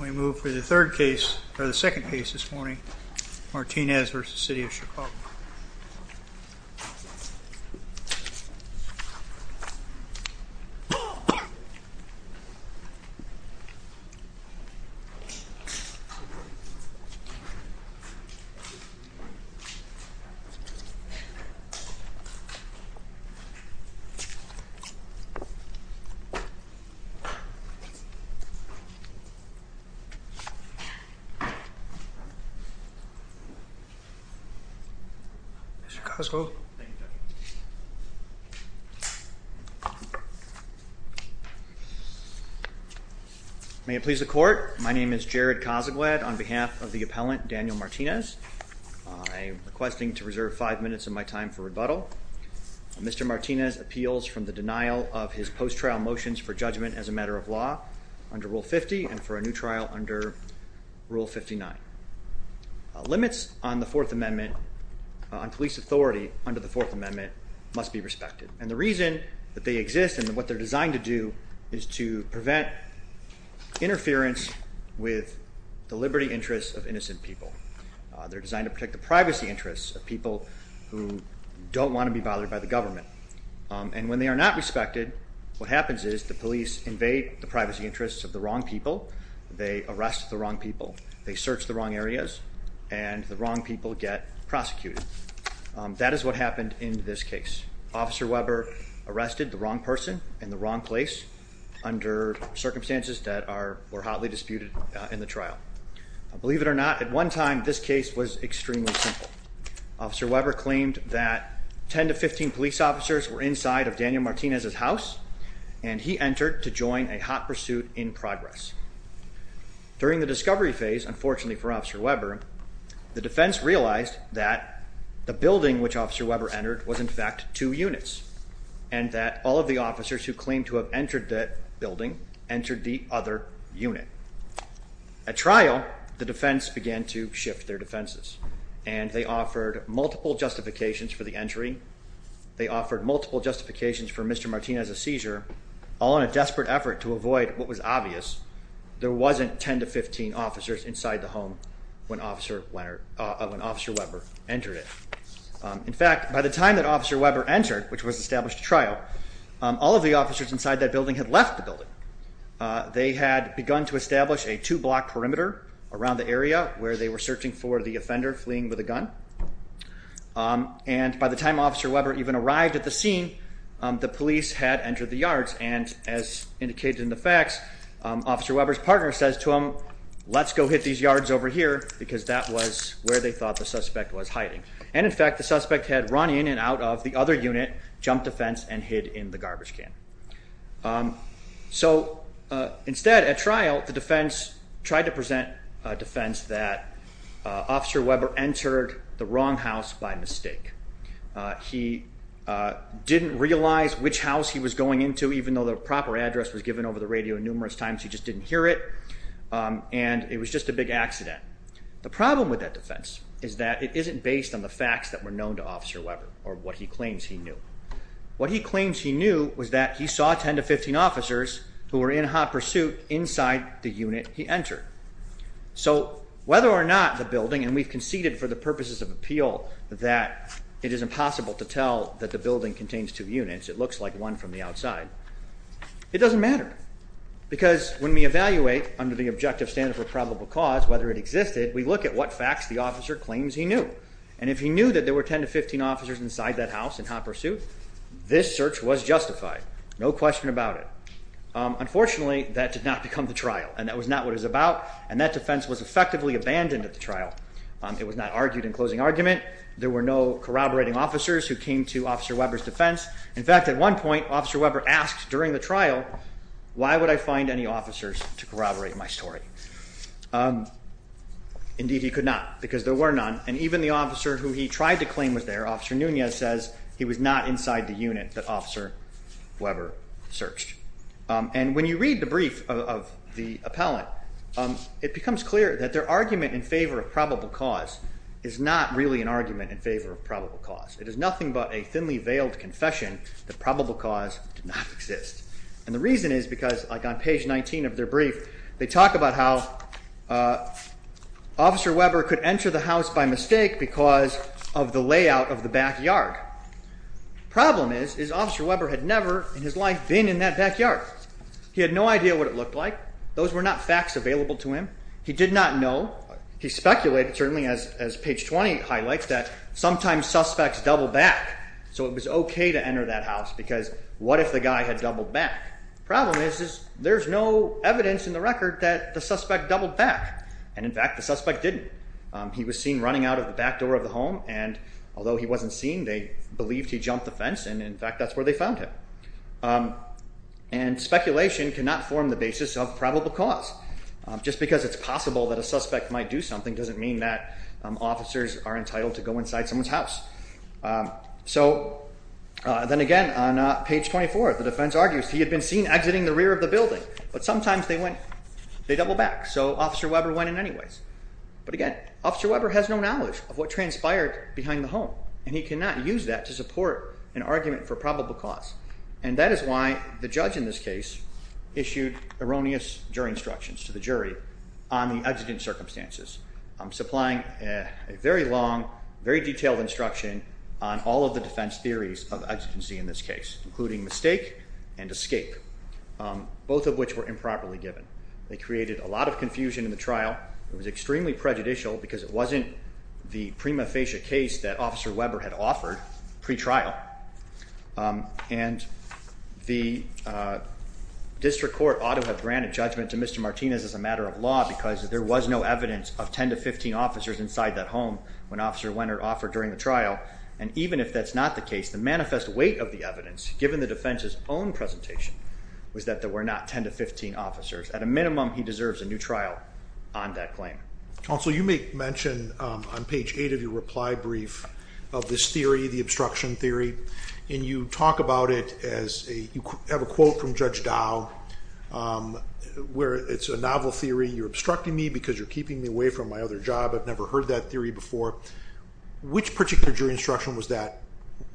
We move for the third case, or the second case this morning, Martinez v. City of Chicago. Mr. Kozakiewicz. May it please the court, my name is Jared Kozakiewicz on behalf of the appellant Daniel Martinez. I'm requesting to reserve five minutes of my time for rebuttal. Mr. Martinez appeals from the denial of his post-trial motions for judgment as a matter of law. Under Rule 50 and for a new trial under Rule 59. Limits on the Fourth Amendment, on police authority under the Fourth Amendment, must be respected. And the reason that they exist and what they're designed to do is to prevent interference with the liberty interests of innocent people. They're designed to protect the privacy interests of people who don't want to be bothered by the government. And when they are not respected, what happens is the police invade the privacy interests of the wrong people. They arrest the wrong people. They search the wrong areas and the wrong people get prosecuted. That is what happened in this case. Officer Weber arrested the wrong person in the wrong place under circumstances that are hotly disputed in the trial. Believe it or not, at one time this case was extremely simple. Officer Weber claimed that 10 to 15 police officers were inside of Daniel Martinez's house. And he entered to join a hot pursuit in progress. During the discovery phase, unfortunately for Officer Weber, the defense realized that the building which Officer Weber entered was in fact two units. And that all of the officers who claimed to have entered that building entered the other unit. At trial, the defense began to shift their defenses. And they offered multiple justifications for the entry. They offered multiple justifications for Mr. Martinez's seizure, all in a desperate effort to avoid what was obvious. There wasn't 10 to 15 officers inside the home when Officer Weber entered it. In fact, by the time that Officer Weber entered, which was established at trial, all of the officers inside that building had left the building. They had begun to establish a two-block perimeter around the area where they were searching for the offender fleeing with a gun. And by the time Officer Weber even arrived at the scene, the police had entered the yards. And as indicated in the facts, Officer Weber's partner says to him, let's go hit these yards over here because that was where they thought the suspect was hiding. And in fact, the suspect had run in and out of the other unit, jumped a fence and hid in the garbage can. So instead, at trial, the defense tried to present a defense that Officer Weber entered the wrong house by mistake. He didn't realize which house he was going into, even though the proper address was given over the radio numerous times. He just didn't hear it. And it was just a big accident. The problem with that defense is that it isn't based on the facts that were known to Officer Weber or what he claims he knew. What he claims he knew was that he saw 10 to 15 officers who were in hot pursuit inside the unit he entered. So whether or not the building, and we've conceded for the purposes of appeal that it is impossible to tell that the building contains two units, it looks like one from the outside, it doesn't matter. Because when we evaluate under the objective standard for probable cause, whether it existed, we look at what facts the officer claims he knew. And if he knew that there were 10 to 15 officers inside that house in hot pursuit, this search was justified. No question about it. Unfortunately, that did not become the trial. And that was not what it was about. And that defense was effectively abandoned at the trial. It was not argued in closing argument. There were no corroborating officers who came to Officer Weber's defense. In fact, at one point, Officer Weber asked during the trial, why would I find any officers to corroborate my story? Indeed, he could not, because there were none. And even the officer who he tried to claim was there, Officer Nunez, says he was not inside the unit that Officer Weber searched. And when you read the brief of the appellant, it becomes clear that their argument in favor of probable cause is not really an argument in favor of probable cause. It is nothing but a thinly veiled confession that probable cause did not exist. And the reason is because, like on page 19 of their brief, they talk about how Officer Weber could enter the house by mistake because of the layout of the backyard. Problem is, is Officer Weber had never in his life been in that backyard. He had no idea what it looked like. Those were not facts available to him. He did not know. He speculated, certainly as page 20 highlights, that sometimes suspects double back. So it was OK to enter that house because what if the guy had doubled back? Problem is, is there's no evidence in the record that the suspect doubled back. And in fact, the suspect didn't. He was seen running out of the back door of the home. And although he wasn't seen, they believed he jumped the fence. And in fact, that's where they found him. And speculation cannot form the basis of probable cause. Just because it's possible that a suspect might do something doesn't mean that officers are entitled to go inside someone's house. So then again, on page 24, the defense argues he had been seen exiting the rear of the building. But sometimes they went, they double back. So Officer Weber went in anyways. But again, Officer Weber has no knowledge of what transpired behind the home. And he cannot use that to support an argument for probable cause. And that is why the judge in this case issued erroneous jury instructions to the jury on the exiting circumstances. I'm supplying a very long, very detailed instruction on all of the defense theories of exigency in this case, including mistake and escape, both of which were improperly given. They created a lot of confusion in the trial. It was extremely prejudicial because it wasn't the prima facie case that Officer Weber had offered pretrial. And the district court ought to have granted judgment to Mr. Martinez as a matter of law because there was no evidence of 10 to 15 officers inside that home when Officer Wenner offered during the trial. And even if that's not the case, the manifest weight of the evidence, given the defense's own presentation, was that there were not 10 to 15 officers. At a minimum, he deserves a new trial on that claim. Counsel, you make mention on page eight of your reply brief of this theory, the obstruction theory. And you talk about it as you have a quote from Judge Dow where it's a novel theory. You're obstructing me because you're keeping me away from my other job. I've never heard that theory before. Which particular jury instruction was that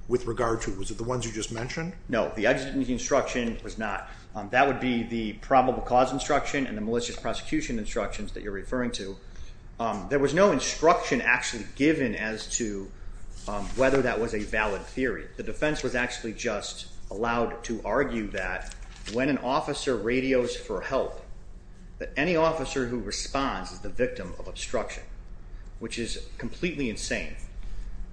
with regard to? Was it the ones you just mentioned? No, the instruction was not. That would be the probable cause instruction and the malicious prosecution instructions that you're referring to. There was no instruction actually given as to whether that was a valid theory. The defense was actually just allowed to argue that when an officer radios for help, that any officer who responds is the victim of obstruction, which is completely insane.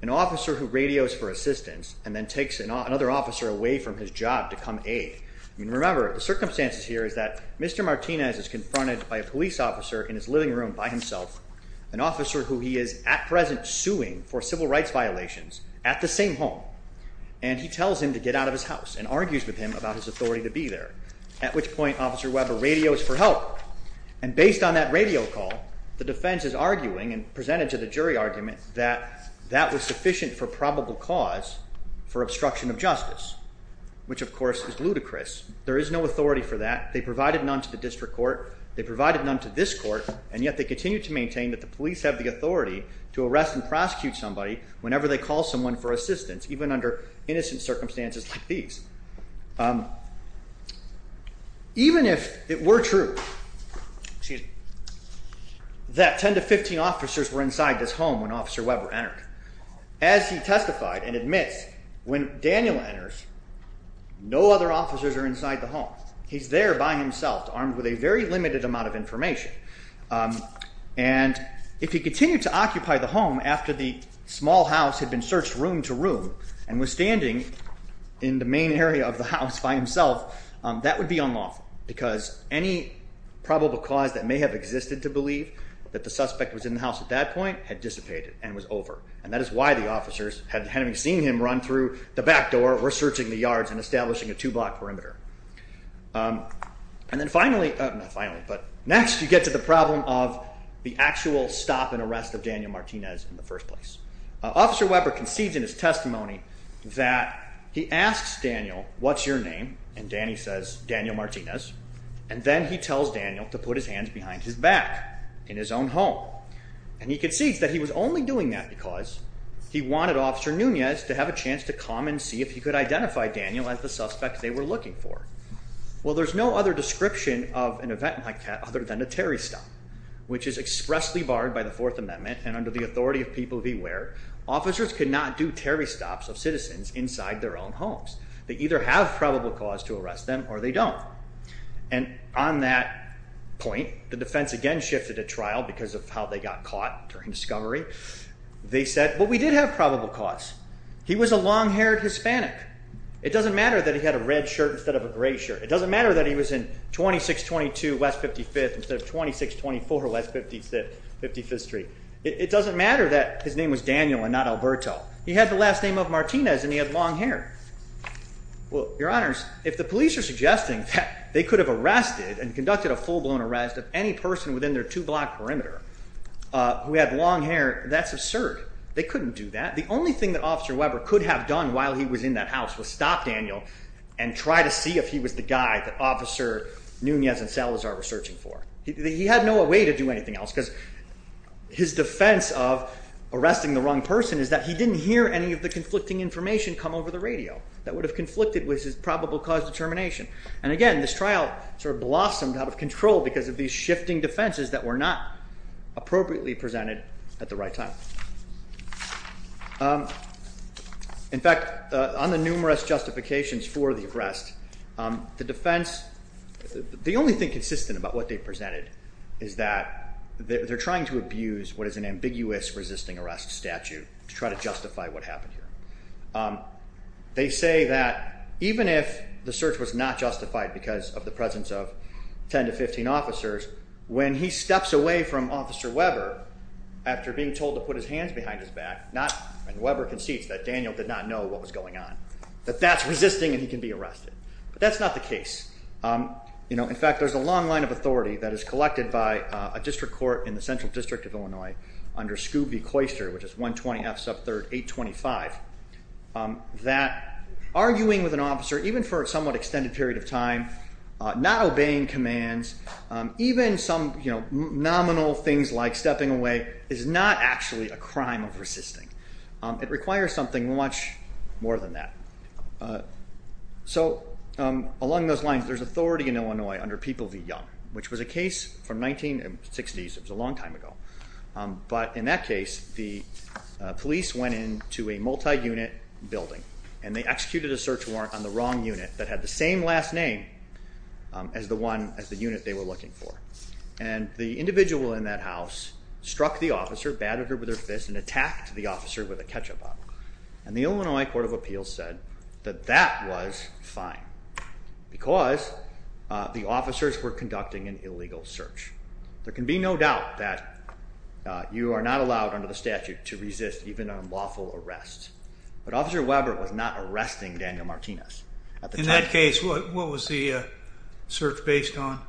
An officer who radios for assistance and then takes another officer away from his job to come aid. Remember, the circumstances here is that Mr. Martinez is confronted by a police officer in his living room by himself, an officer who he is at present suing for civil rights violations at the same home. And he tells him to get out of his house and argues with him about his authority to be there, at which point Officer Weber radios for help. And based on that radio call, the defense is arguing and presented to the jury argument that that was sufficient for probable cause for obstruction of justice, which of course is ludicrous. There is no authority for that. They provided none to the district court. They provided none to this court, and yet they continue to maintain that the police have the authority to arrest and prosecute somebody whenever they call someone for assistance, even under innocent circumstances like these. Even if it were true that 10 to 15 officers were inside this home when Officer Weber entered, as he testified and admits, when Daniel enters, no other officers are inside the home. He's there by himself, armed with a very limited amount of information. And if he continued to occupy the home after the small house had been searched room to room and was standing in the main area of the house by himself, that would be unlawful, because any probable cause that may have existed to believe that the suspect was in the house at that point had dissipated and was over. And that is why the officers, having seen him run through the back door, were searching the yards and establishing a two-block perimeter. And then finally, next you get to the problem of the actual stop and arrest of Daniel Martinez in the first place. Officer Weber concedes in his testimony that he asks Daniel, what's your name? And Danny says, Daniel Martinez. And then he tells Daniel to put his hands behind his back in his own home. And he concedes that he was only doing that because he wanted Officer Nunez to have a chance to come and see if he could identify Daniel as the suspect they were looking for. Well, there's no other description of an event like that other than a Terry stop, which is expressly barred by the Fourth Amendment. And under the authority of people beware, officers could not do Terry stops of citizens inside their own homes. They either have probable cause to arrest them or they don't. And on that point, the defense again shifted to trial because of how they got caught during discovery. They said, well, we did have probable cause. He was a long-haired Hispanic. It doesn't matter that he had a red shirt instead of a gray shirt. It doesn't matter that he was in 2622 West 55th instead of 2624 West 55th Street. It doesn't matter that his name was Daniel and not Alberto. He had the last name of Martinez and he had long hair. Well, your honors, if the police are suggesting that they could have arrested and conducted a full blown arrest of any person within their two block perimeter, we had long hair. That's absurd. They couldn't do that. The only thing that Officer Weber could have done while he was in that house was stop Daniel and try to see if he was the guy that Officer Nunez and Salazar were searching for. He had no way to do anything else because his defense of arresting the wrong person is that he didn't hear any of the conflicting information come over the radio that would have conflicted with his probable cause determination. And again, this trial sort of blossomed out of control because of these shifting defenses that were not appropriately presented at the right time. In fact, on the numerous justifications for the arrest, the defense, the only thing consistent about what they presented is that they're trying to abuse what is an ambiguous resisting arrest statute to try to justify what happened here. They say that even if the search was not justified because of the presence of 10 to 15 officers, when he steps away from Officer Weber after being told to put his hands behind his back and Weber concedes that Daniel did not know what was going on, that that's resisting and he can be arrested. But that's not the case. In fact, there's a long line of authority that is collected by a district court in the Central District of Illinois under Scooby-Coyster, which is 120 F sub 3rd 825, that arguing with an officer, even for a somewhat extended period of time, not obeying commands, even some nominal things like stepping away is not actually a crime of resisting. It requires something much more than that. So along those lines, there's authority in Illinois under People v. Young, which was a case from 1960s. It was a long time ago. But in that case, the police went into a multi-unit building and they executed a search warrant on the wrong unit that had the same last name as the unit they were looking for. And the individual in that house struck the officer, battered her with her fist and attacked the officer with a ketchup bottle. And the Illinois Court of Appeals said that that was fine because the officers were conducting an illegal search. There can be no doubt that you are not allowed under the statute to resist even a lawful arrest. But Officer Weber was not arresting Daniel Martinez. In that case, what was the search based on?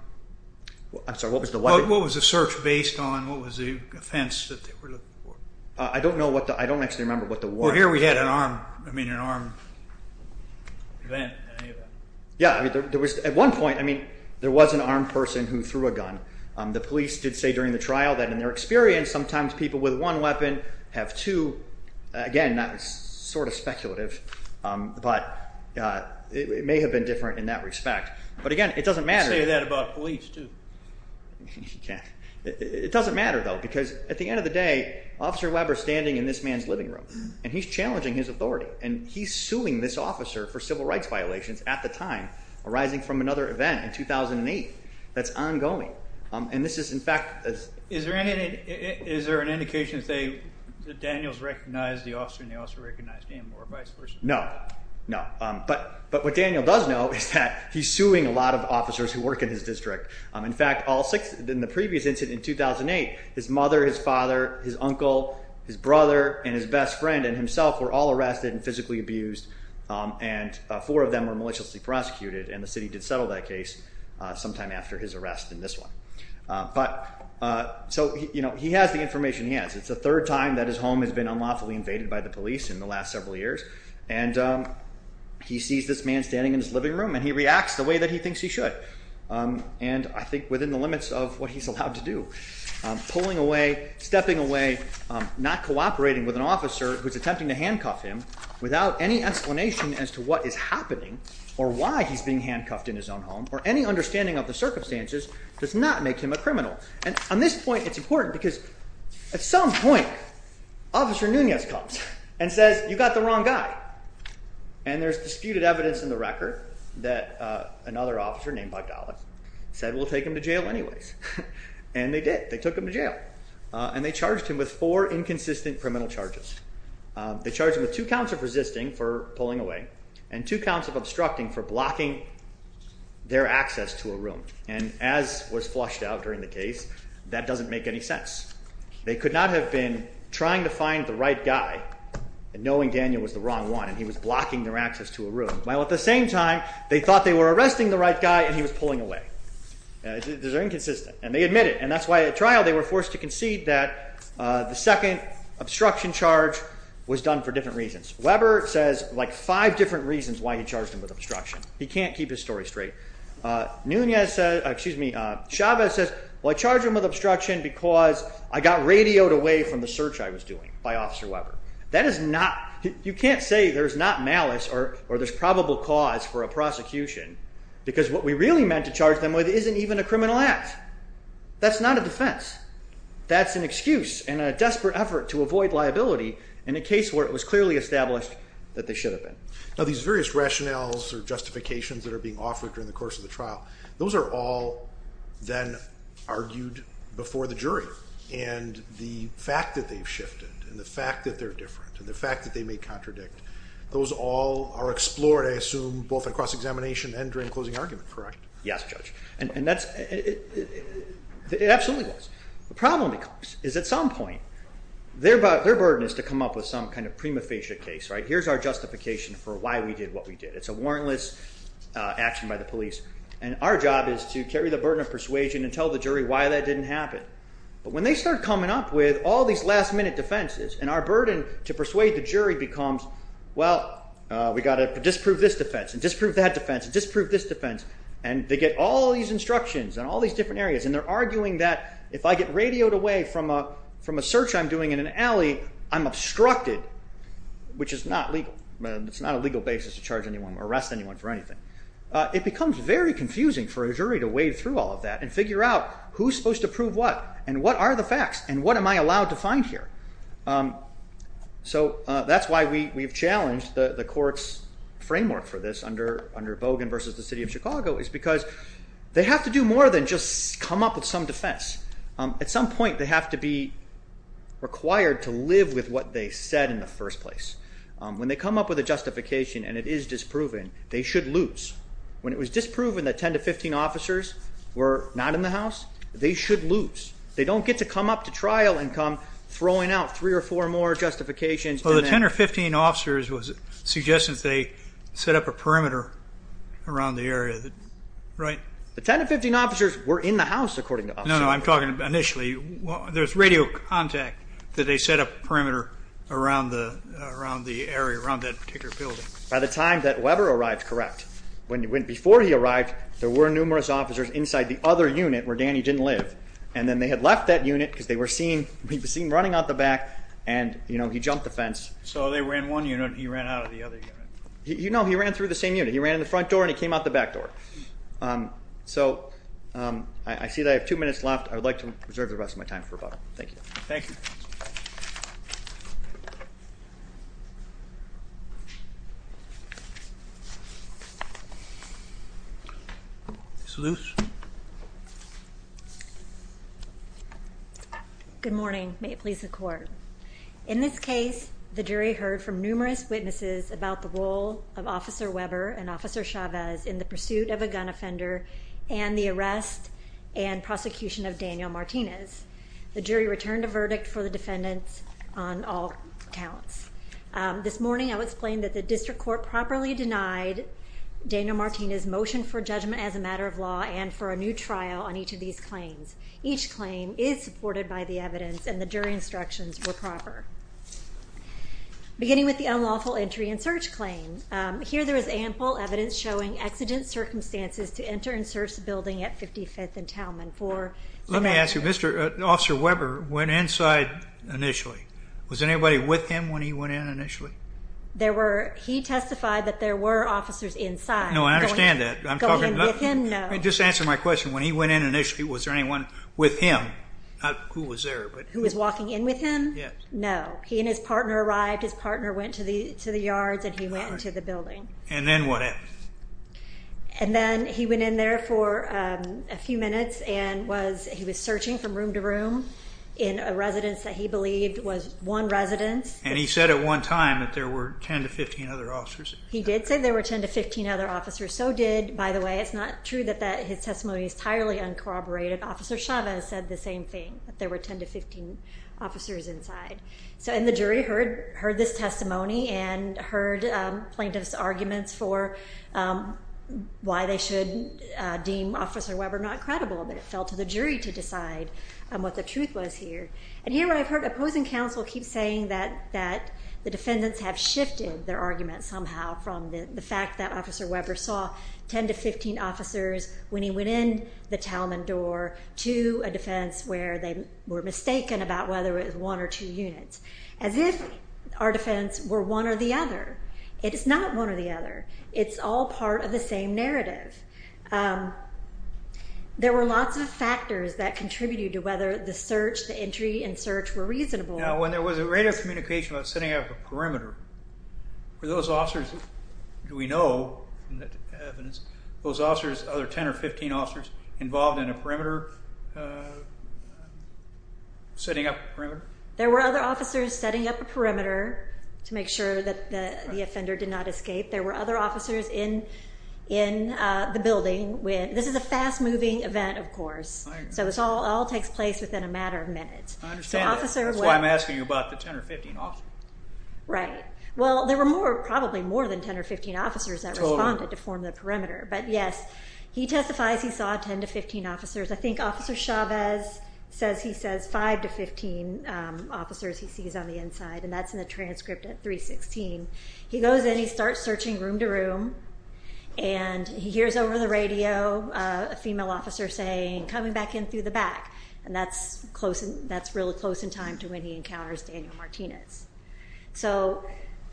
I'm sorry, what was the weapon? What was the search based on? What was the offense that they were looking for? I don't actually remember what the warrant was. Well, here we had an armed event. Yeah. At one point, there was an armed person who threw a gun. The police did say during the trial that in their experience, sometimes people with one weapon have two. Again, that was sort of speculative. But it may have been different in that respect. But again, it doesn't matter. They say that about police, too. It doesn't matter, though, because at the end of the day, Officer Weber is standing in this man's living room, and he's challenging his authority. And he's suing this officer for civil rights violations at the time arising from another event in 2008 that's ongoing. And this is, in fact— Is there an indication that Daniel has recognized the officer and the officer recognized him or vice versa? No, no. But what Daniel does know is that he's suing a lot of officers who work in his district. In fact, in the previous incident in 2008, his mother, his father, his uncle, his brother, and his best friend and himself were all arrested and physically abused. And four of them were maliciously prosecuted, and the city did settle that case sometime after his arrest in this one. So he has the information he has. It's the third time that his home has been unlawfully invaded by the police in the last several years. And he sees this man standing in his living room, and he reacts the way that he thinks he should, and I think within the limits of what he's allowed to do. Pulling away, stepping away, not cooperating with an officer who's attempting to handcuff him without any explanation as to what is happening or why he's being handcuffed in his own home or any understanding of the circumstances does not make him a criminal. And on this point, it's important because at some point, Officer Nunez comes and says, you got the wrong guy. And there's disputed evidence in the record that another officer named Bogdanoff said we'll take him to jail anyways. And they did. They took him to jail and they charged him with four inconsistent criminal charges. They charged him with two counts of resisting for pulling away and two counts of obstructing for blocking their access to a room. And as was flushed out during the case, that doesn't make any sense. They could not have been trying to find the right guy and knowing Daniel was the wrong one and he was blocking their access to a room. While at the same time, they thought they were arresting the right guy and he was pulling away. These are inconsistent, and they admit it. And that's why at trial, they were forced to concede that the second obstruction charge was done for different reasons. Weber says like five different reasons why he charged him with obstruction. He can't keep his story straight. Chavez says, well, I charged him with obstruction because I got radioed away from the search I was doing by Officer Weber. You can't say there's not malice or there's probable cause for a prosecution because what we really meant to charge them with isn't even a criminal act. That's not a defense. That's an excuse and a desperate effort to avoid liability in a case where it was clearly established that they should have been. Now, these various rationales or justifications that are being offered during the course of the trial, those are all then argued before the jury. And the fact that they've shifted and the fact that they're different and the fact that they may contradict, those all are explored, I assume, both in cross-examination and during closing argument, correct? Yes, Judge. It absolutely is. The problem is at some point, their burden is to come up with some kind of prima facie case. Here's our justification for why we did what we did. It's a warrantless action by the police, and our job is to carry the burden of persuasion and tell the jury why that didn't happen. But when they start coming up with all these last-minute defenses and our burden to persuade the jury becomes, well, we've got to disprove this defense and disprove that defense and disprove this defense, and they get all these instructions in all these different areas, and they're arguing that if I get radioed away from a search I'm doing in an alley, I'm obstructed, which is not legal. It's not a legal basis to charge anyone or arrest anyone for anything. It becomes very confusing for a jury to wade through all of that and figure out who's supposed to prove what and what are the facts and what am I allowed to find here? So that's why we've challenged the court's framework for this under Bogan v. The City of Chicago is because they have to do more than just come up with some defense. At some point, they have to be required to live with what they said in the first place. When they come up with a justification and it is disproven, they should lose. When it was disproven that 10 to 15 officers were not in the house, they should lose. They don't get to come up to trial and come throwing out three or four more justifications. Well, the 10 or 15 officers was suggesting they set up a perimeter around the area, right? The 10 to 15 officers were in the house, according to officers. No, no, I'm talking initially. There's radio contact that they set up a perimeter around the area, around that particular building. By the time that Weber arrived, correct. Before he arrived, there were numerous officers inside the other unit where Danny didn't live. And then they had left that unit because they were seen running out the back and he jumped the fence. So they were in one unit and he ran out of the other unit? No, he ran through the same unit. He ran in the front door and he came out the back door. So I see that I have two minutes left. I would like to reserve the rest of my time for rebuttal. Thank you. Thank you. Ms. Luce. Good morning. May it please the court. In this case, the jury heard from numerous witnesses about the role of Officer Weber and Officer Chavez in the pursuit of a gun offender and the arrest and prosecution of Daniel Martinez. The jury returned a verdict for the defendants on all counts. This morning, I will explain that the district court properly denied Daniel Martinez' motion for judgment as a matter of law and for a new trial on each of these claims. Each claim is supported by the evidence and the jury instructions were proper. Beginning with the unlawful entry and search claim, here there is ample evidence showing exigent circumstances to enter and search the building at 55th and Talman for— Let me ask you. Officer Weber went inside initially. Was anybody with him when he went in initially? He testified that there were officers inside. No, I understand that. Going in with him, no. Just answer my question. When he went in initially, was there anyone with him? Not who was there. Who was walking in with him? Yes. No. He and his partner arrived. His partner went to the yards and he went into the building. And then what happened? And then he went in there for a few minutes and he was searching from room to room in a residence that he believed was one residence. And he said at one time that there were 10 to 15 other officers. He did say there were 10 to 15 other officers. So did, by the way, it's not true that his testimony is entirely uncorroborated. Officer Chavez said the same thing, that there were 10 to 15 officers inside. And the jury heard this testimony and heard plaintiff's arguments for why they should deem Officer Weber not credible. But it fell to the jury to decide what the truth was here. And here I've heard opposing counsel keep saying that the defendants have shifted their argument somehow from the fact that Officer Weber saw 10 to 15 officers when he went in the Talman door to a defense where they were mistaken about whether it was one or two units. As if our defense were one or the other. It is not one or the other. It's all part of the same narrative. There were lots of factors that contributed to whether the search, the entry and search were reasonable. Now, when there was a radio communication about setting up a perimeter, were those officers that we know in the evidence, those officers, other 10 or 15 officers involved in a perimeter, setting up a perimeter? There were other officers setting up a perimeter to make sure that the offender did not escape. There were other officers in the building. This is a fast-moving event, of course. So this all takes place within a matter of minutes. I understand that. That's why I'm asking you about the 10 or 15 officers. Right. Well, there were probably more than 10 or 15 officers that responded to form the perimeter. But, yes, he testifies he saw 10 to 15 officers. I think Officer Chavez says he sees 5 to 15 officers he sees on the inside. And that's in the transcript at 316. He goes in. He starts searching room to room. And he hears over the radio a female officer saying, coming back in through the back. And that's really close in time to when he encounters Daniel Martinez. So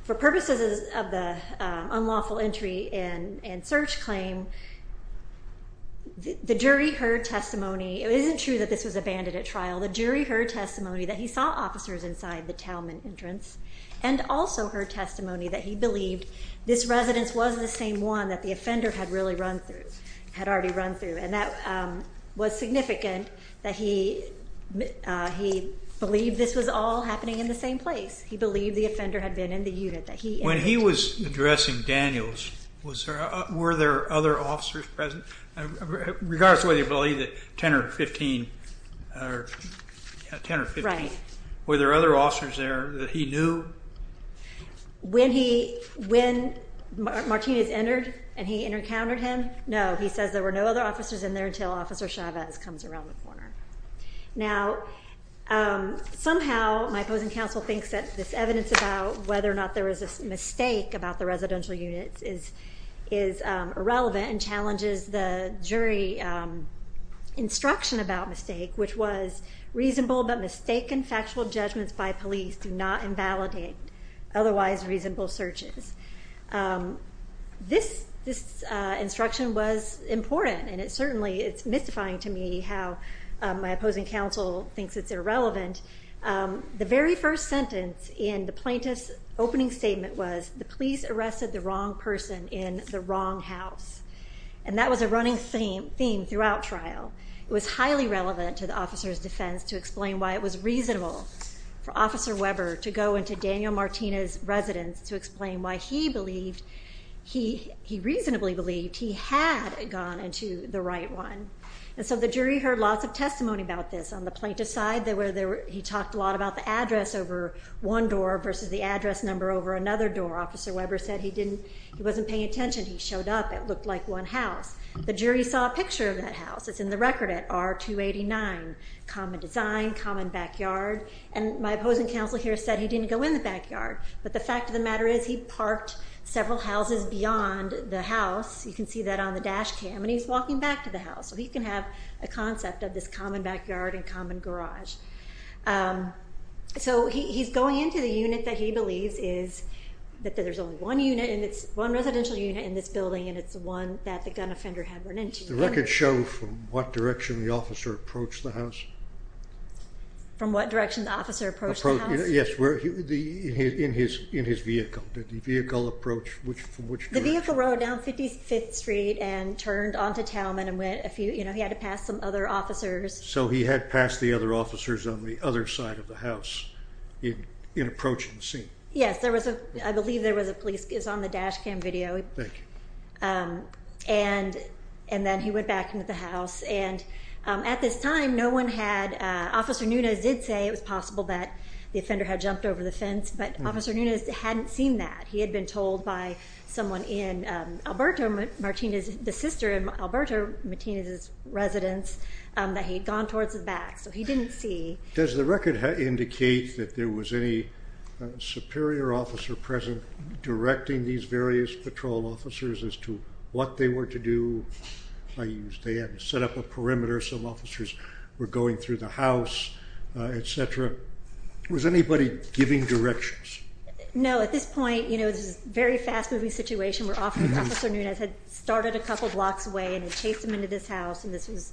for purposes of the unlawful entry and search claim, the jury heard testimony. It isn't true that this was abandoned at trial. The jury heard testimony that he saw officers inside the Talman entrance and also heard testimony that he believed this residence was the same one that the offender had really run through, had already run through. And that was significant that he believed this was all happening in the same place. He believed the offender had been in the unit that he entered. When he was addressing Daniels, were there other officers present? Regardless of whether you believe that 10 or 15, were there other officers there that he knew? When Martinez entered and he encountered him, no, he says there were no other officers in there until Officer Chavez comes around the corner. Now, somehow my opposing counsel thinks that this evidence about whether or not there was a mistake about the residential units is irrelevant and challenges the jury instruction about mistake, which was reasonable but mistaken factual judgments by police do not invalidate otherwise reasonable searches. This instruction was important, and it certainly is mystifying to me how my opposing counsel thinks it's irrelevant. The very first sentence in the plaintiff's opening statement was, the police arrested the wrong person in the wrong house. And that was a running theme throughout trial. It was highly relevant to the officer's defense to explain why it was reasonable for Officer Weber to go into Daniel Martinez's residence to explain why he reasonably believed he had gone into the right one. And so the jury heard lots of testimony about this. On the plaintiff's side, he talked a lot about the address over one door versus the address number over another door. Officer Weber said he wasn't paying attention. He showed up. It looked like one house. The jury saw a picture of that house. It's in the record at R-289, common design, common backyard. And my opposing counsel here said he didn't go in the backyard. But the fact of the matter is he parked several houses beyond the house. You can see that on the dash cam, and he's walking back to the house. So he can have a concept of this common backyard and common garage. So he's going into the unit that he believes is that there's only one unit, one residential unit in this building, and it's the one that the gun offender had run into. The records show from what direction the officer approached the house? From what direction the officer approached the house? Yes, in his vehicle. Did the vehicle approach from which direction? The vehicle rode down 55th Street and turned onto Talman and went a few, you know, he had to pass some other officers. So he had passed the other officers on the other side of the house in approaching the scene? Yes, there was a, I believe there was a police, it's on the dash cam video. Thank you. And then he went back into the house. And at this time, no one had, Officer Nunez did say it was possible that the offender had jumped over the fence, but Officer Nunez hadn't seen that. He had been told by someone in Alberto Martinez, the sister in Alberto Martinez's residence, that he had gone towards the back. So he didn't see. Does the record indicate that there was any superior officer present directing these various patrol officers as to what they were to do? They had set up a perimeter, some officers were going through the house, et cetera. Was anybody giving directions? No, at this point, you know, this is a very fast moving situation where Officer Nunez had started a couple blocks away and had chased him into this house. And this was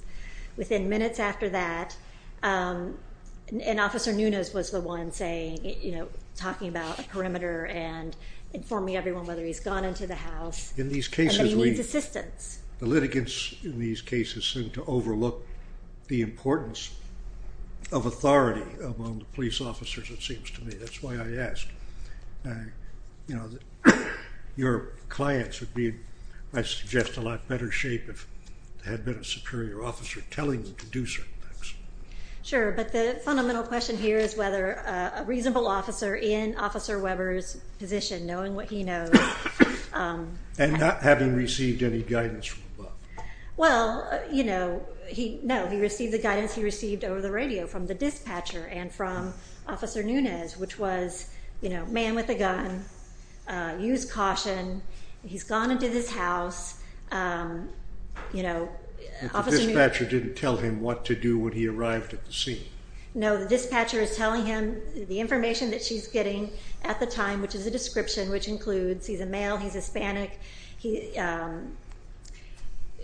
within minutes after that. And Officer Nunez was the one saying, you know, talking about a perimeter and informing everyone, whether he's gone into the house. In these cases, the litigants in these cases seem to overlook the importance of authority among the police officers, it seems to me. That's why I asked, you know, would you have been in a lot better shape if there had been a superior officer telling you to do certain things? Sure. But the fundamental question here is whether a reasonable officer in Officer Weber's position, knowing what he knows. And not having received any guidance from above. Well, you know, no, he received the guidance he received over the radio from the dispatcher and from Officer Nunez, which was, you know, man with a gun, use caution. He's gone into this house, you know. But the dispatcher didn't tell him what to do when he arrived at the scene. No, the dispatcher is telling him the information that she's getting at the time, which is a description, which includes he's a male, he's Hispanic,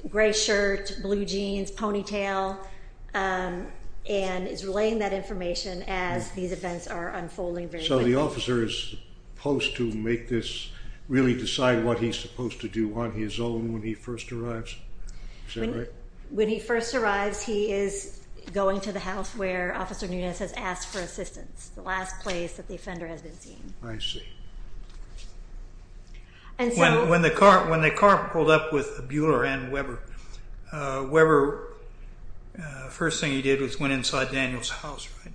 gray shirt, blue jeans, ponytail, and is relaying that information as these events are unfolding. So the officer is supposed to make this, really decide what he's supposed to do on his own when he first arrives? Is that right? When he first arrives, he is going to the house where Officer Nunez has asked for assistance. The last place that the offender has been seen. I see. When the car pulled up with Bueller and Weber, Weber, first thing he did was went inside Daniel's house, right?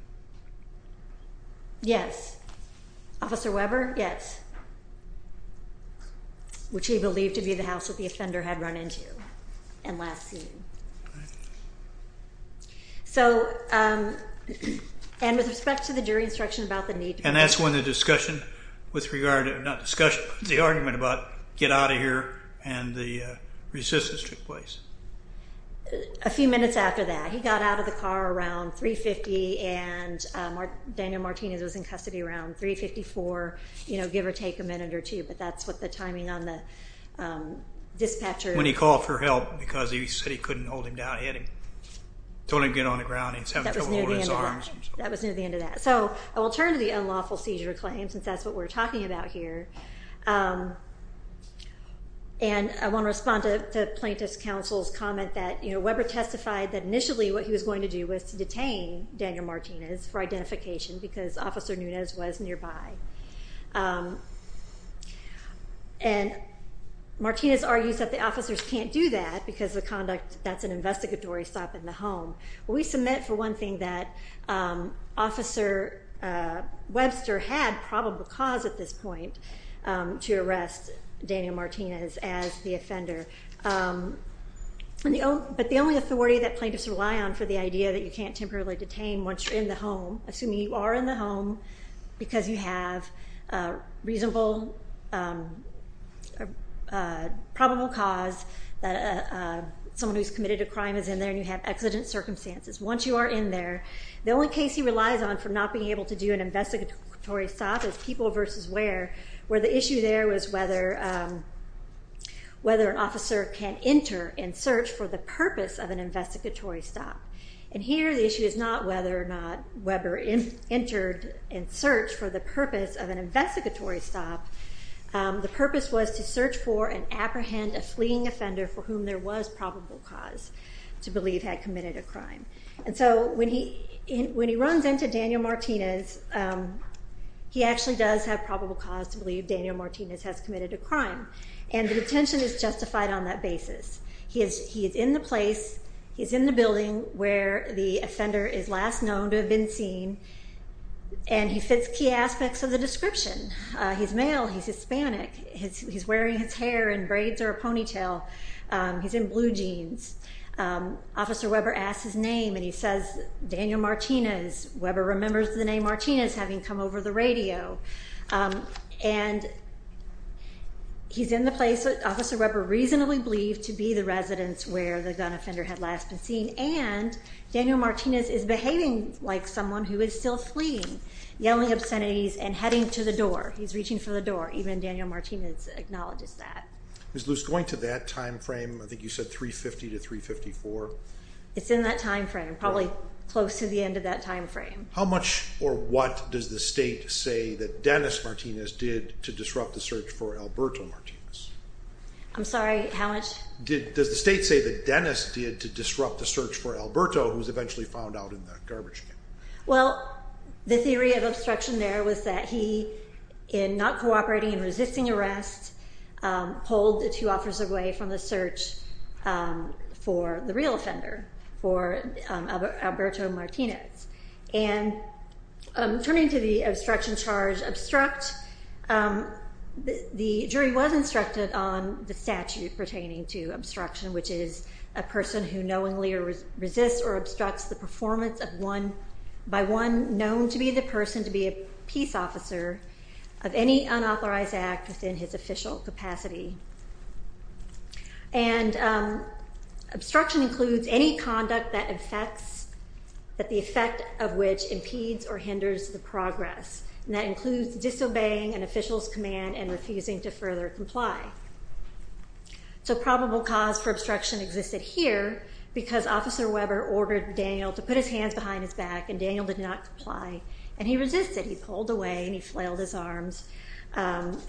Yes. Officer Weber? Yes. Which he believed to be the house that the offender had run into and last seen. So, and with respect to the jury instruction about the need. And that's when the discussion with regard, not discussion, the argument about get out of here and the resistance took place. A few minutes after that, he got out of the car around 3.50 and Daniel Martinez was in custody around 3.54, you know, give or take a minute or two, but that's what the timing on the dispatcher. When he called for help because he said he couldn't hold him down, he had to totally get on the ground. That was near the end of that. So I will turn to the unlawful seizure claim since that's what we're talking about here. Essentially what he was going to do was to detain Daniel Martinez for identification because officer Nunez was nearby. And Martinez argues that the officers can't do that because the conduct, that's an investigatory stop in the home. We submit for one thing that officer Webster had probable cause at this point to arrest Daniel Martinez as the offender. But the only authority that plaintiffs rely on for the idea that you can't temporarily detain once you're in the home, assuming you are in the home because you have a reasonable, probable cause that someone who's committed a crime is in there and you have exigent circumstances. Once you are in there, the only case he relies on for not being able to do an investigatory stop is people versus where, where the issue there was whether an officer can enter and search for the purpose of an investigatory stop. And here the issue is not whether or not Webster entered and searched for the purpose of an investigatory stop. The purpose was to search for and apprehend a fleeing offender for whom there was probable cause to believe had committed a crime. And so when he runs into Daniel Martinez, he actually does have probable cause to believe Daniel Martinez has committed a crime. And the detention is justified on that basis. He is in the place, he's in the building where the offender is last known to have been seen, and he fits key aspects of the description. He's male, he's Hispanic, he's wearing his hair in braids or a ponytail, he's in blue jeans. Officer Weber asks his name and he says, Daniel Martinez. Weber remembers the name Martinez having come over the radio. And he's in the place that Officer Weber reasonably believed to be the residence where the gun offender had last been seen. And Daniel Martinez is behaving like someone who is still fleeing, yelling obscenities and heading to the door. He's reaching for the door. Even Daniel Martinez acknowledges that. Ms. Luce, going to that timeframe, I think you said 350 to 354. It's in that timeframe. Probably close to the end of that timeframe. How much or what does the state say that Dennis Martinez did to disrupt the search for Alberto Martinez? I'm sorry, how much? Does the state say that Dennis did to disrupt the search for Alberto, who was eventually found out in the garbage can? Well, the theory of obstruction there was that he, in not cooperating and resisting arrest, pulled the two officers away from the search for the real offender, for Alberto Martinez. And turning to the obstruction charge, the jury was instructed on the statute pertaining to obstruction, which is a person who knowingly resists or obstructs the performance by one known to be the person to be a peace officer of any unauthorized act within his official capacity. And obstruction includes any conduct that the effect of which impedes or hinders the progress. And that includes disobeying an official's command and refusing to further comply. So probable cause for obstruction existed here because Officer Weber ordered Daniel to put his hands behind his back, and Daniel did not comply. And he resisted. He pulled away and he flailed his arms. And,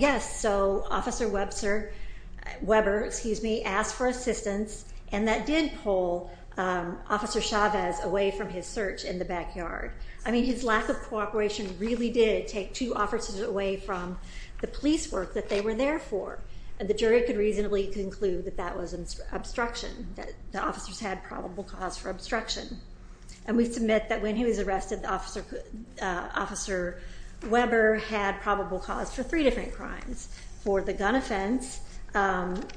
yes, so Officer Weber asked for assistance, and that did pull Officer Chavez away from his search in the backyard. I mean, his lack of cooperation really did take two officers away from the police work that they were there for. And the jury could reasonably conclude that that was obstruction, that the officers had probable cause for obstruction. And we submit that when he was arrested, Officer Weber had probable cause for three different crimes. For the gun offense,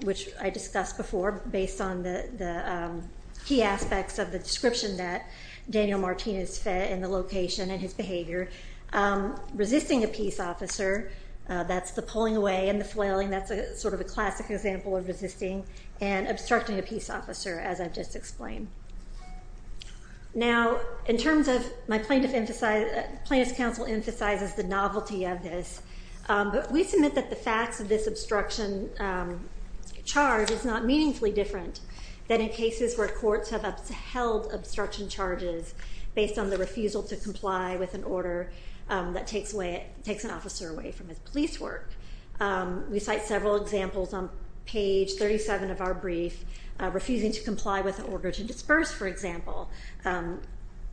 which I discussed before, based on the key aspects of the description that Daniel Martinez fit in the location and his behavior. Resisting a peace officer, that's the pulling away and the flailing. That's sort of a classic example of resisting and obstructing a peace officer, as I've just explained. Now, in terms of my plaintiff emphasized, plaintiff's counsel emphasizes the novelty of this, but we submit that the facts of this obstruction charge is not meaningfully different than in cases where courts have upheld obstruction charges based on the refusal to comply with an order that takes away, takes an officer away from his police work. We cite several examples on page 37 of our brief, refusing to comply with an order to disperse, for example,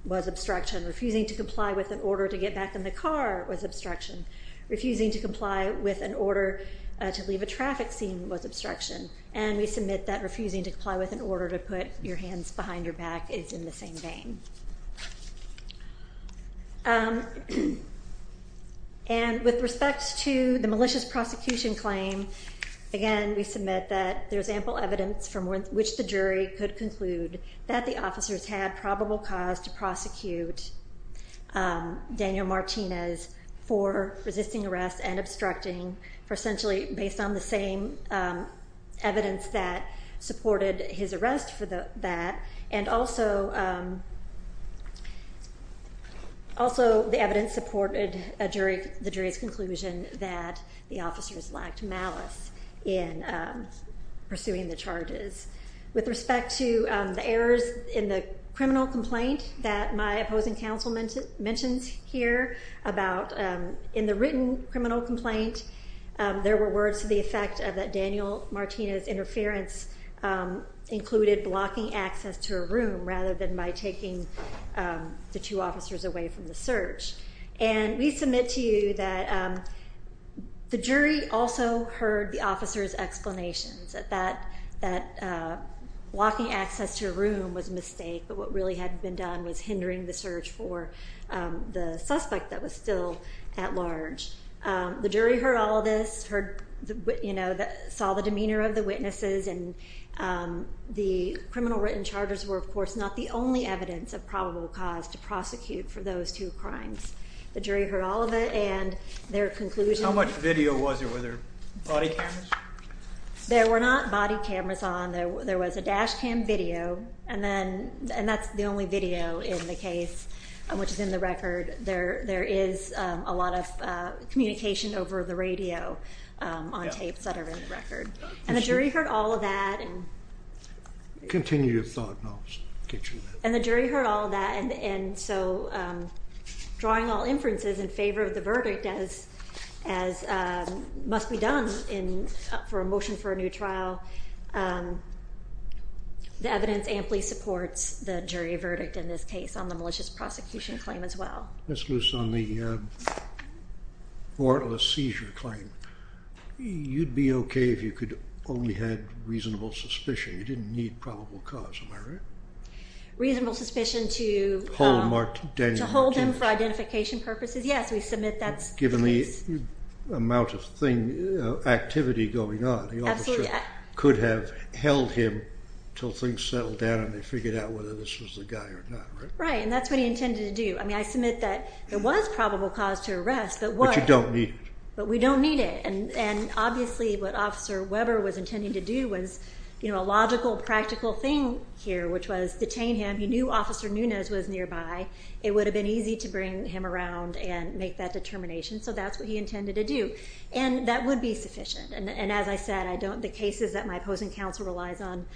was obstruction. Refusing to comply with an order to get back in the car was obstruction. Refusing to comply with an order to leave a traffic scene was obstruction. And we submit that refusing to comply with an order to put your hands behind your back is in the same vein. And with respect to the malicious prosecution claim, again, we submit that there's ample evidence from which the jury could conclude that the officers had probable cause to prosecute Daniel Martinez for resisting arrest and obstructing for essentially based on the same evidence that supported his arrest for that. And also the evidence supported the jury's conclusion that the officers lacked malice in pursuing the charges. With respect to the errors in the criminal complaint that my opposing counsel mentions here about in the written criminal complaint, there were words to the effect of that Daniel Martinez interference included blocking access to a room rather than by taking the two officers away from the search. And we submit to you that the jury also heard the officers' explanations that blocking access to a room was a mistake, but what really had been done was hindering the search for the suspect that was still at large. The jury heard all of this, saw the demeanor of the witnesses, and the criminal written charges were, of course, not the only evidence of probable cause to prosecute for those two crimes. The jury heard all of it and their conclusion. How much video was there? Were there body cameras? There were not body cameras on. There was a dash cam video, and that's the only video in the case, which is in the record. There is a lot of communication over the radio on tapes that are in the record. And the jury heard all of that. Continue your thought, and I'll get you that. And the jury heard all of that. And so drawing all inferences in favor of the verdict, as must be done for a motion for a new trial, the evidence amply supports the jury verdict in this case on the malicious prosecution claim as well. Ms. Luce, on the warrantless seizure claim, you'd be okay if you only had reasonable suspicion. You didn't need probable cause, am I right? Reasonable suspicion to hold him for identification purposes, yes. We submit that's the case. Given the amount of activity going on, the officer could have held him until things settled down and they figured out whether this was the guy or not, right? Right, and that's what he intended to do. I mean, I submit that there was probable cause to arrest, but what? But you don't need it. But we don't need it. And obviously what Officer Weber was intending to do was, you know, a logical, practical thing here, which was detain him. He knew Officer Nunez was nearby. It would have been easy to bring him around and make that determination. So that's what he intended to do. And that would be sufficient. And as I said, I don't, the cases that my opposing counsel relies on,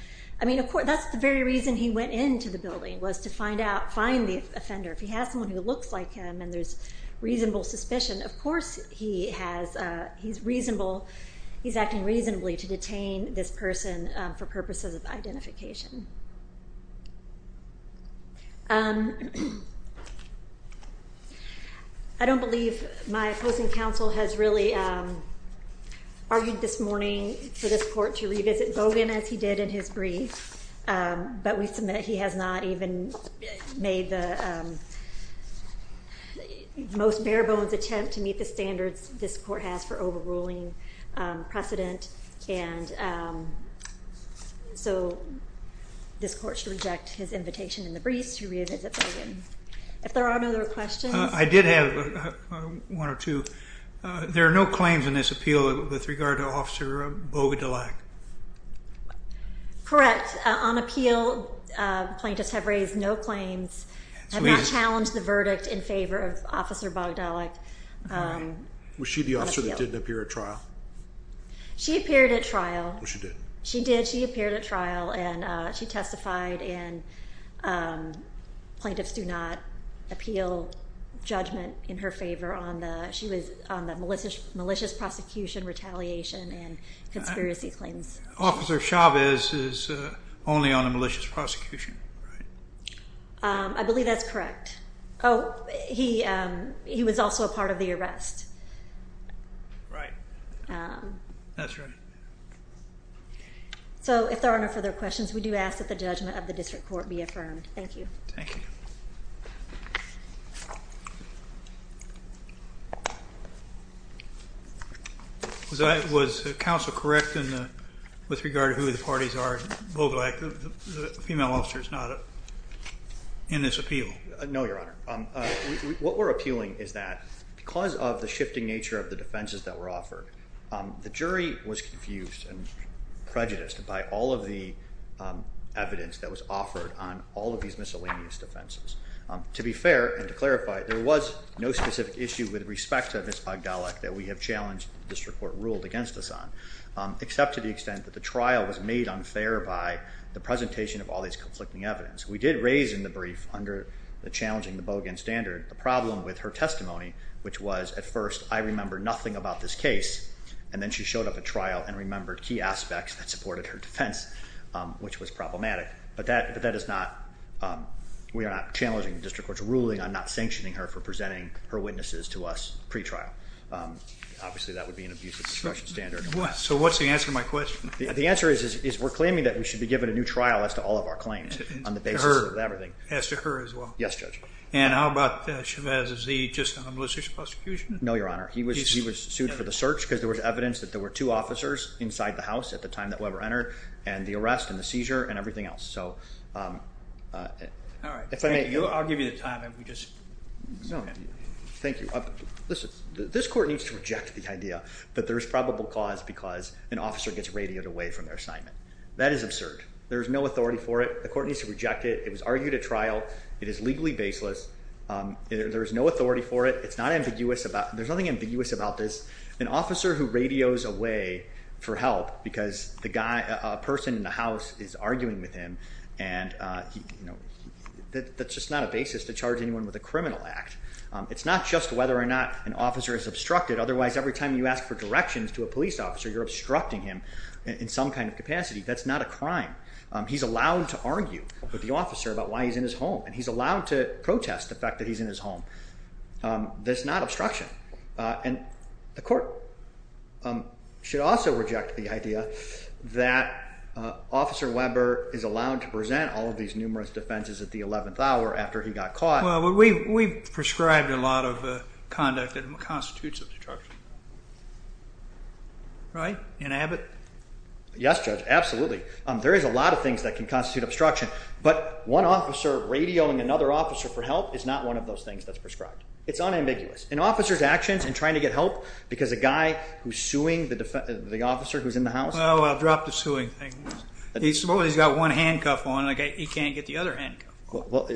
I mean, of course, that's the very reason he went into the building was to find out, find the offender. If he has someone who looks like him and there's reasonable suspicion, of course he has, he's reasonable, he's acting reasonably to detain this person for purposes of identification. I don't believe my opposing counsel has really argued this morning for this court to revisit Bogan as he did in his brief, but we submit he has not even made the most bare bones attempt to meet the standards this court has for overruling precedent. And so this court should reject his invitation in the brief to revisit Bogan. If there are no other questions. I did have one or two. There are no claims in this appeal with regard to Officer Boga DeLac. Correct on appeal. Plaintiffs have raised no claims, have not challenged the verdict in favor of Officer Boga DeLac. Was she the officer that didn't appear at trial? She appeared at trial. She did. She did. She appeared at trial and she testified and plaintiffs do not appeal judgment in her favor on the, she was on the malicious, malicious prosecution, retaliation and conspiracy claims. Officer Chavez is only on a malicious prosecution. Right. I believe that's correct. Oh, he, he was also a part of the arrest. Right. That's right. So if there are no further questions, we do ask that the judgment of the district court be affirmed. Thank you. Thank you. Was that, was counsel correct in the, with regard to who the parties are Boga DeLac, the female officer is not in this appeal. No, Your Honor. What we're appealing is that because of the shifting nature of the defenses that were offered, the jury was confused and prejudiced by all of the evidence that was offered on all of these miscellaneous defenses. To be fair and to clarify, there was no specific issue with respect to this Boga DeLac that we have challenged district court ruled against us on, except to the extent that the trial was made unfair by the presentation of all these conflicting evidence. We did raise in the brief under the challenging the Bogan standard, the problem with her testimony, which was at first, I remember nothing about this case. And then she showed up at trial and remembered key aspects that supported her defense, which was problematic, but that, but that is not, we are not challenging the district court's ruling on not sanctioning her for presenting her witnesses to us pre-trial. Obviously that would be an abusive discretion standard. So what's the answer to my question? The answer is, is we're claiming that we should be given a new trial as to all of our claims on the basis of everything. As to her as well? Yes, Judge. And how about Chavez? Is he just on a malicious prosecution? No, Your Honor. He was, he was sued for the search because there was evidence that there were two officers inside the house at the time that Weber entered and the arrest and the seizure and everything else. So, um, uh, all right. If I may, I'll give you the time and we just. Thank you. Listen, this court needs to reject the idea that there's probable cause because an officer gets radioed away from their assignment. That is absurd. There is no authority for it. The court needs to reject it. It was argued at trial. It is legally baseless. Um, there, there is no authority for it. It's not ambiguous about, there's nothing ambiguous about this. An officer who radios away for help because the guy, a person in the house is arguing with him. And, uh, you know, that that's just not a basis to charge anyone with a criminal act. Um, it's not just whether or not an officer is obstructed. Otherwise, every time you ask for directions to a police officer, you're obstructing him in some kind of capacity. That's not a crime. Um, he's allowed to argue with the officer about why he's in his home and he's allowed to protest the fact that he's in his home. Um, that's not obstruction. Uh, and the court, um, should also reject the idea that, uh, officer Weber is allowed to present all of these numerous defenses at the 11th hour after he got caught. Well, we've, we've prescribed a lot of, uh, conduct that constitutes obstruction, right? In Abbott. Yes, judge. Absolutely. Um, there is a lot of things that can constitute obstruction, but one officer radioing another officer for help is not one of those things that's prescribed. It's unambiguous. And officer's actions and trying to get help because a guy who's suing the defense, the officer who's in the house. Oh, I'll drop the suing thing. He's got one handcuff on. Like he can't get the other hand. Well,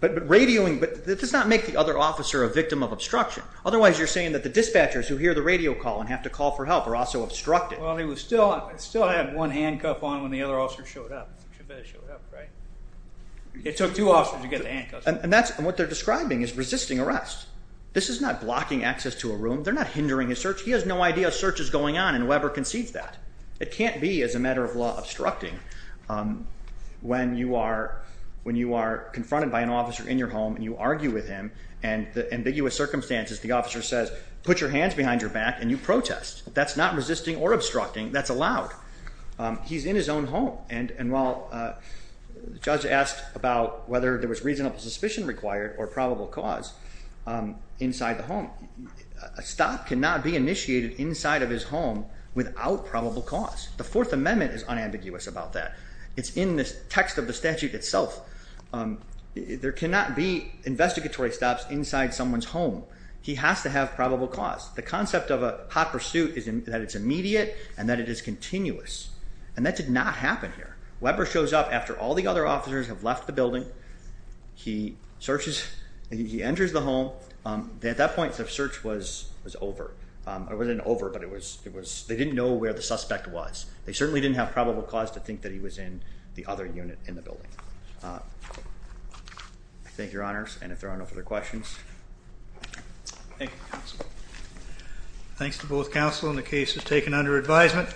but, but radioing, but that does not make the other officer a victim of obstruction. Otherwise you're saying that the dispatchers who hear the radio call and have to call for help are also obstructed. Well, he was still, I still had one handcuff on when the other officer showed up, right? It took two officers to get the handcuffs. And that's what they're describing is resisting arrest. This is not blocking access to a room. They're not hindering his search. He has no idea search is going on. And whoever concedes that it can't be as a matter of law obstructing. Um, when you are, when you are confronted by an officer in your home and you argue with him and the ambiguous circumstances, the officer says, put your hands behind your back and you protest. That's not resisting or obstructing that's allowed. Um, he's in his own home. And, and while, uh, the judge asked about whether there was reasonable suspicion required or probable cause, um, inside the home, a stop cannot be initiated inside of his home without probable cause. The fourth amendment is unambiguous about that. It's in this text of the statute itself. Um, there cannot be investigatory stops inside someone's home. He has to have probable cause. The concept of a hot pursuit is that it's immediate and that it is continuous. And that did not happen here. Weber shows up after all the other officers have left the building. He searches and he enters the home. Um, at that point of search was, was over. Um, I wasn't over, but it was, it was, they didn't know where the suspect was. They certainly didn't have probable cause to think that he was in the other unit in the building. Uh, thank your honors. And if there are no further questions, thanks to both counsel in the case has taken under advisement.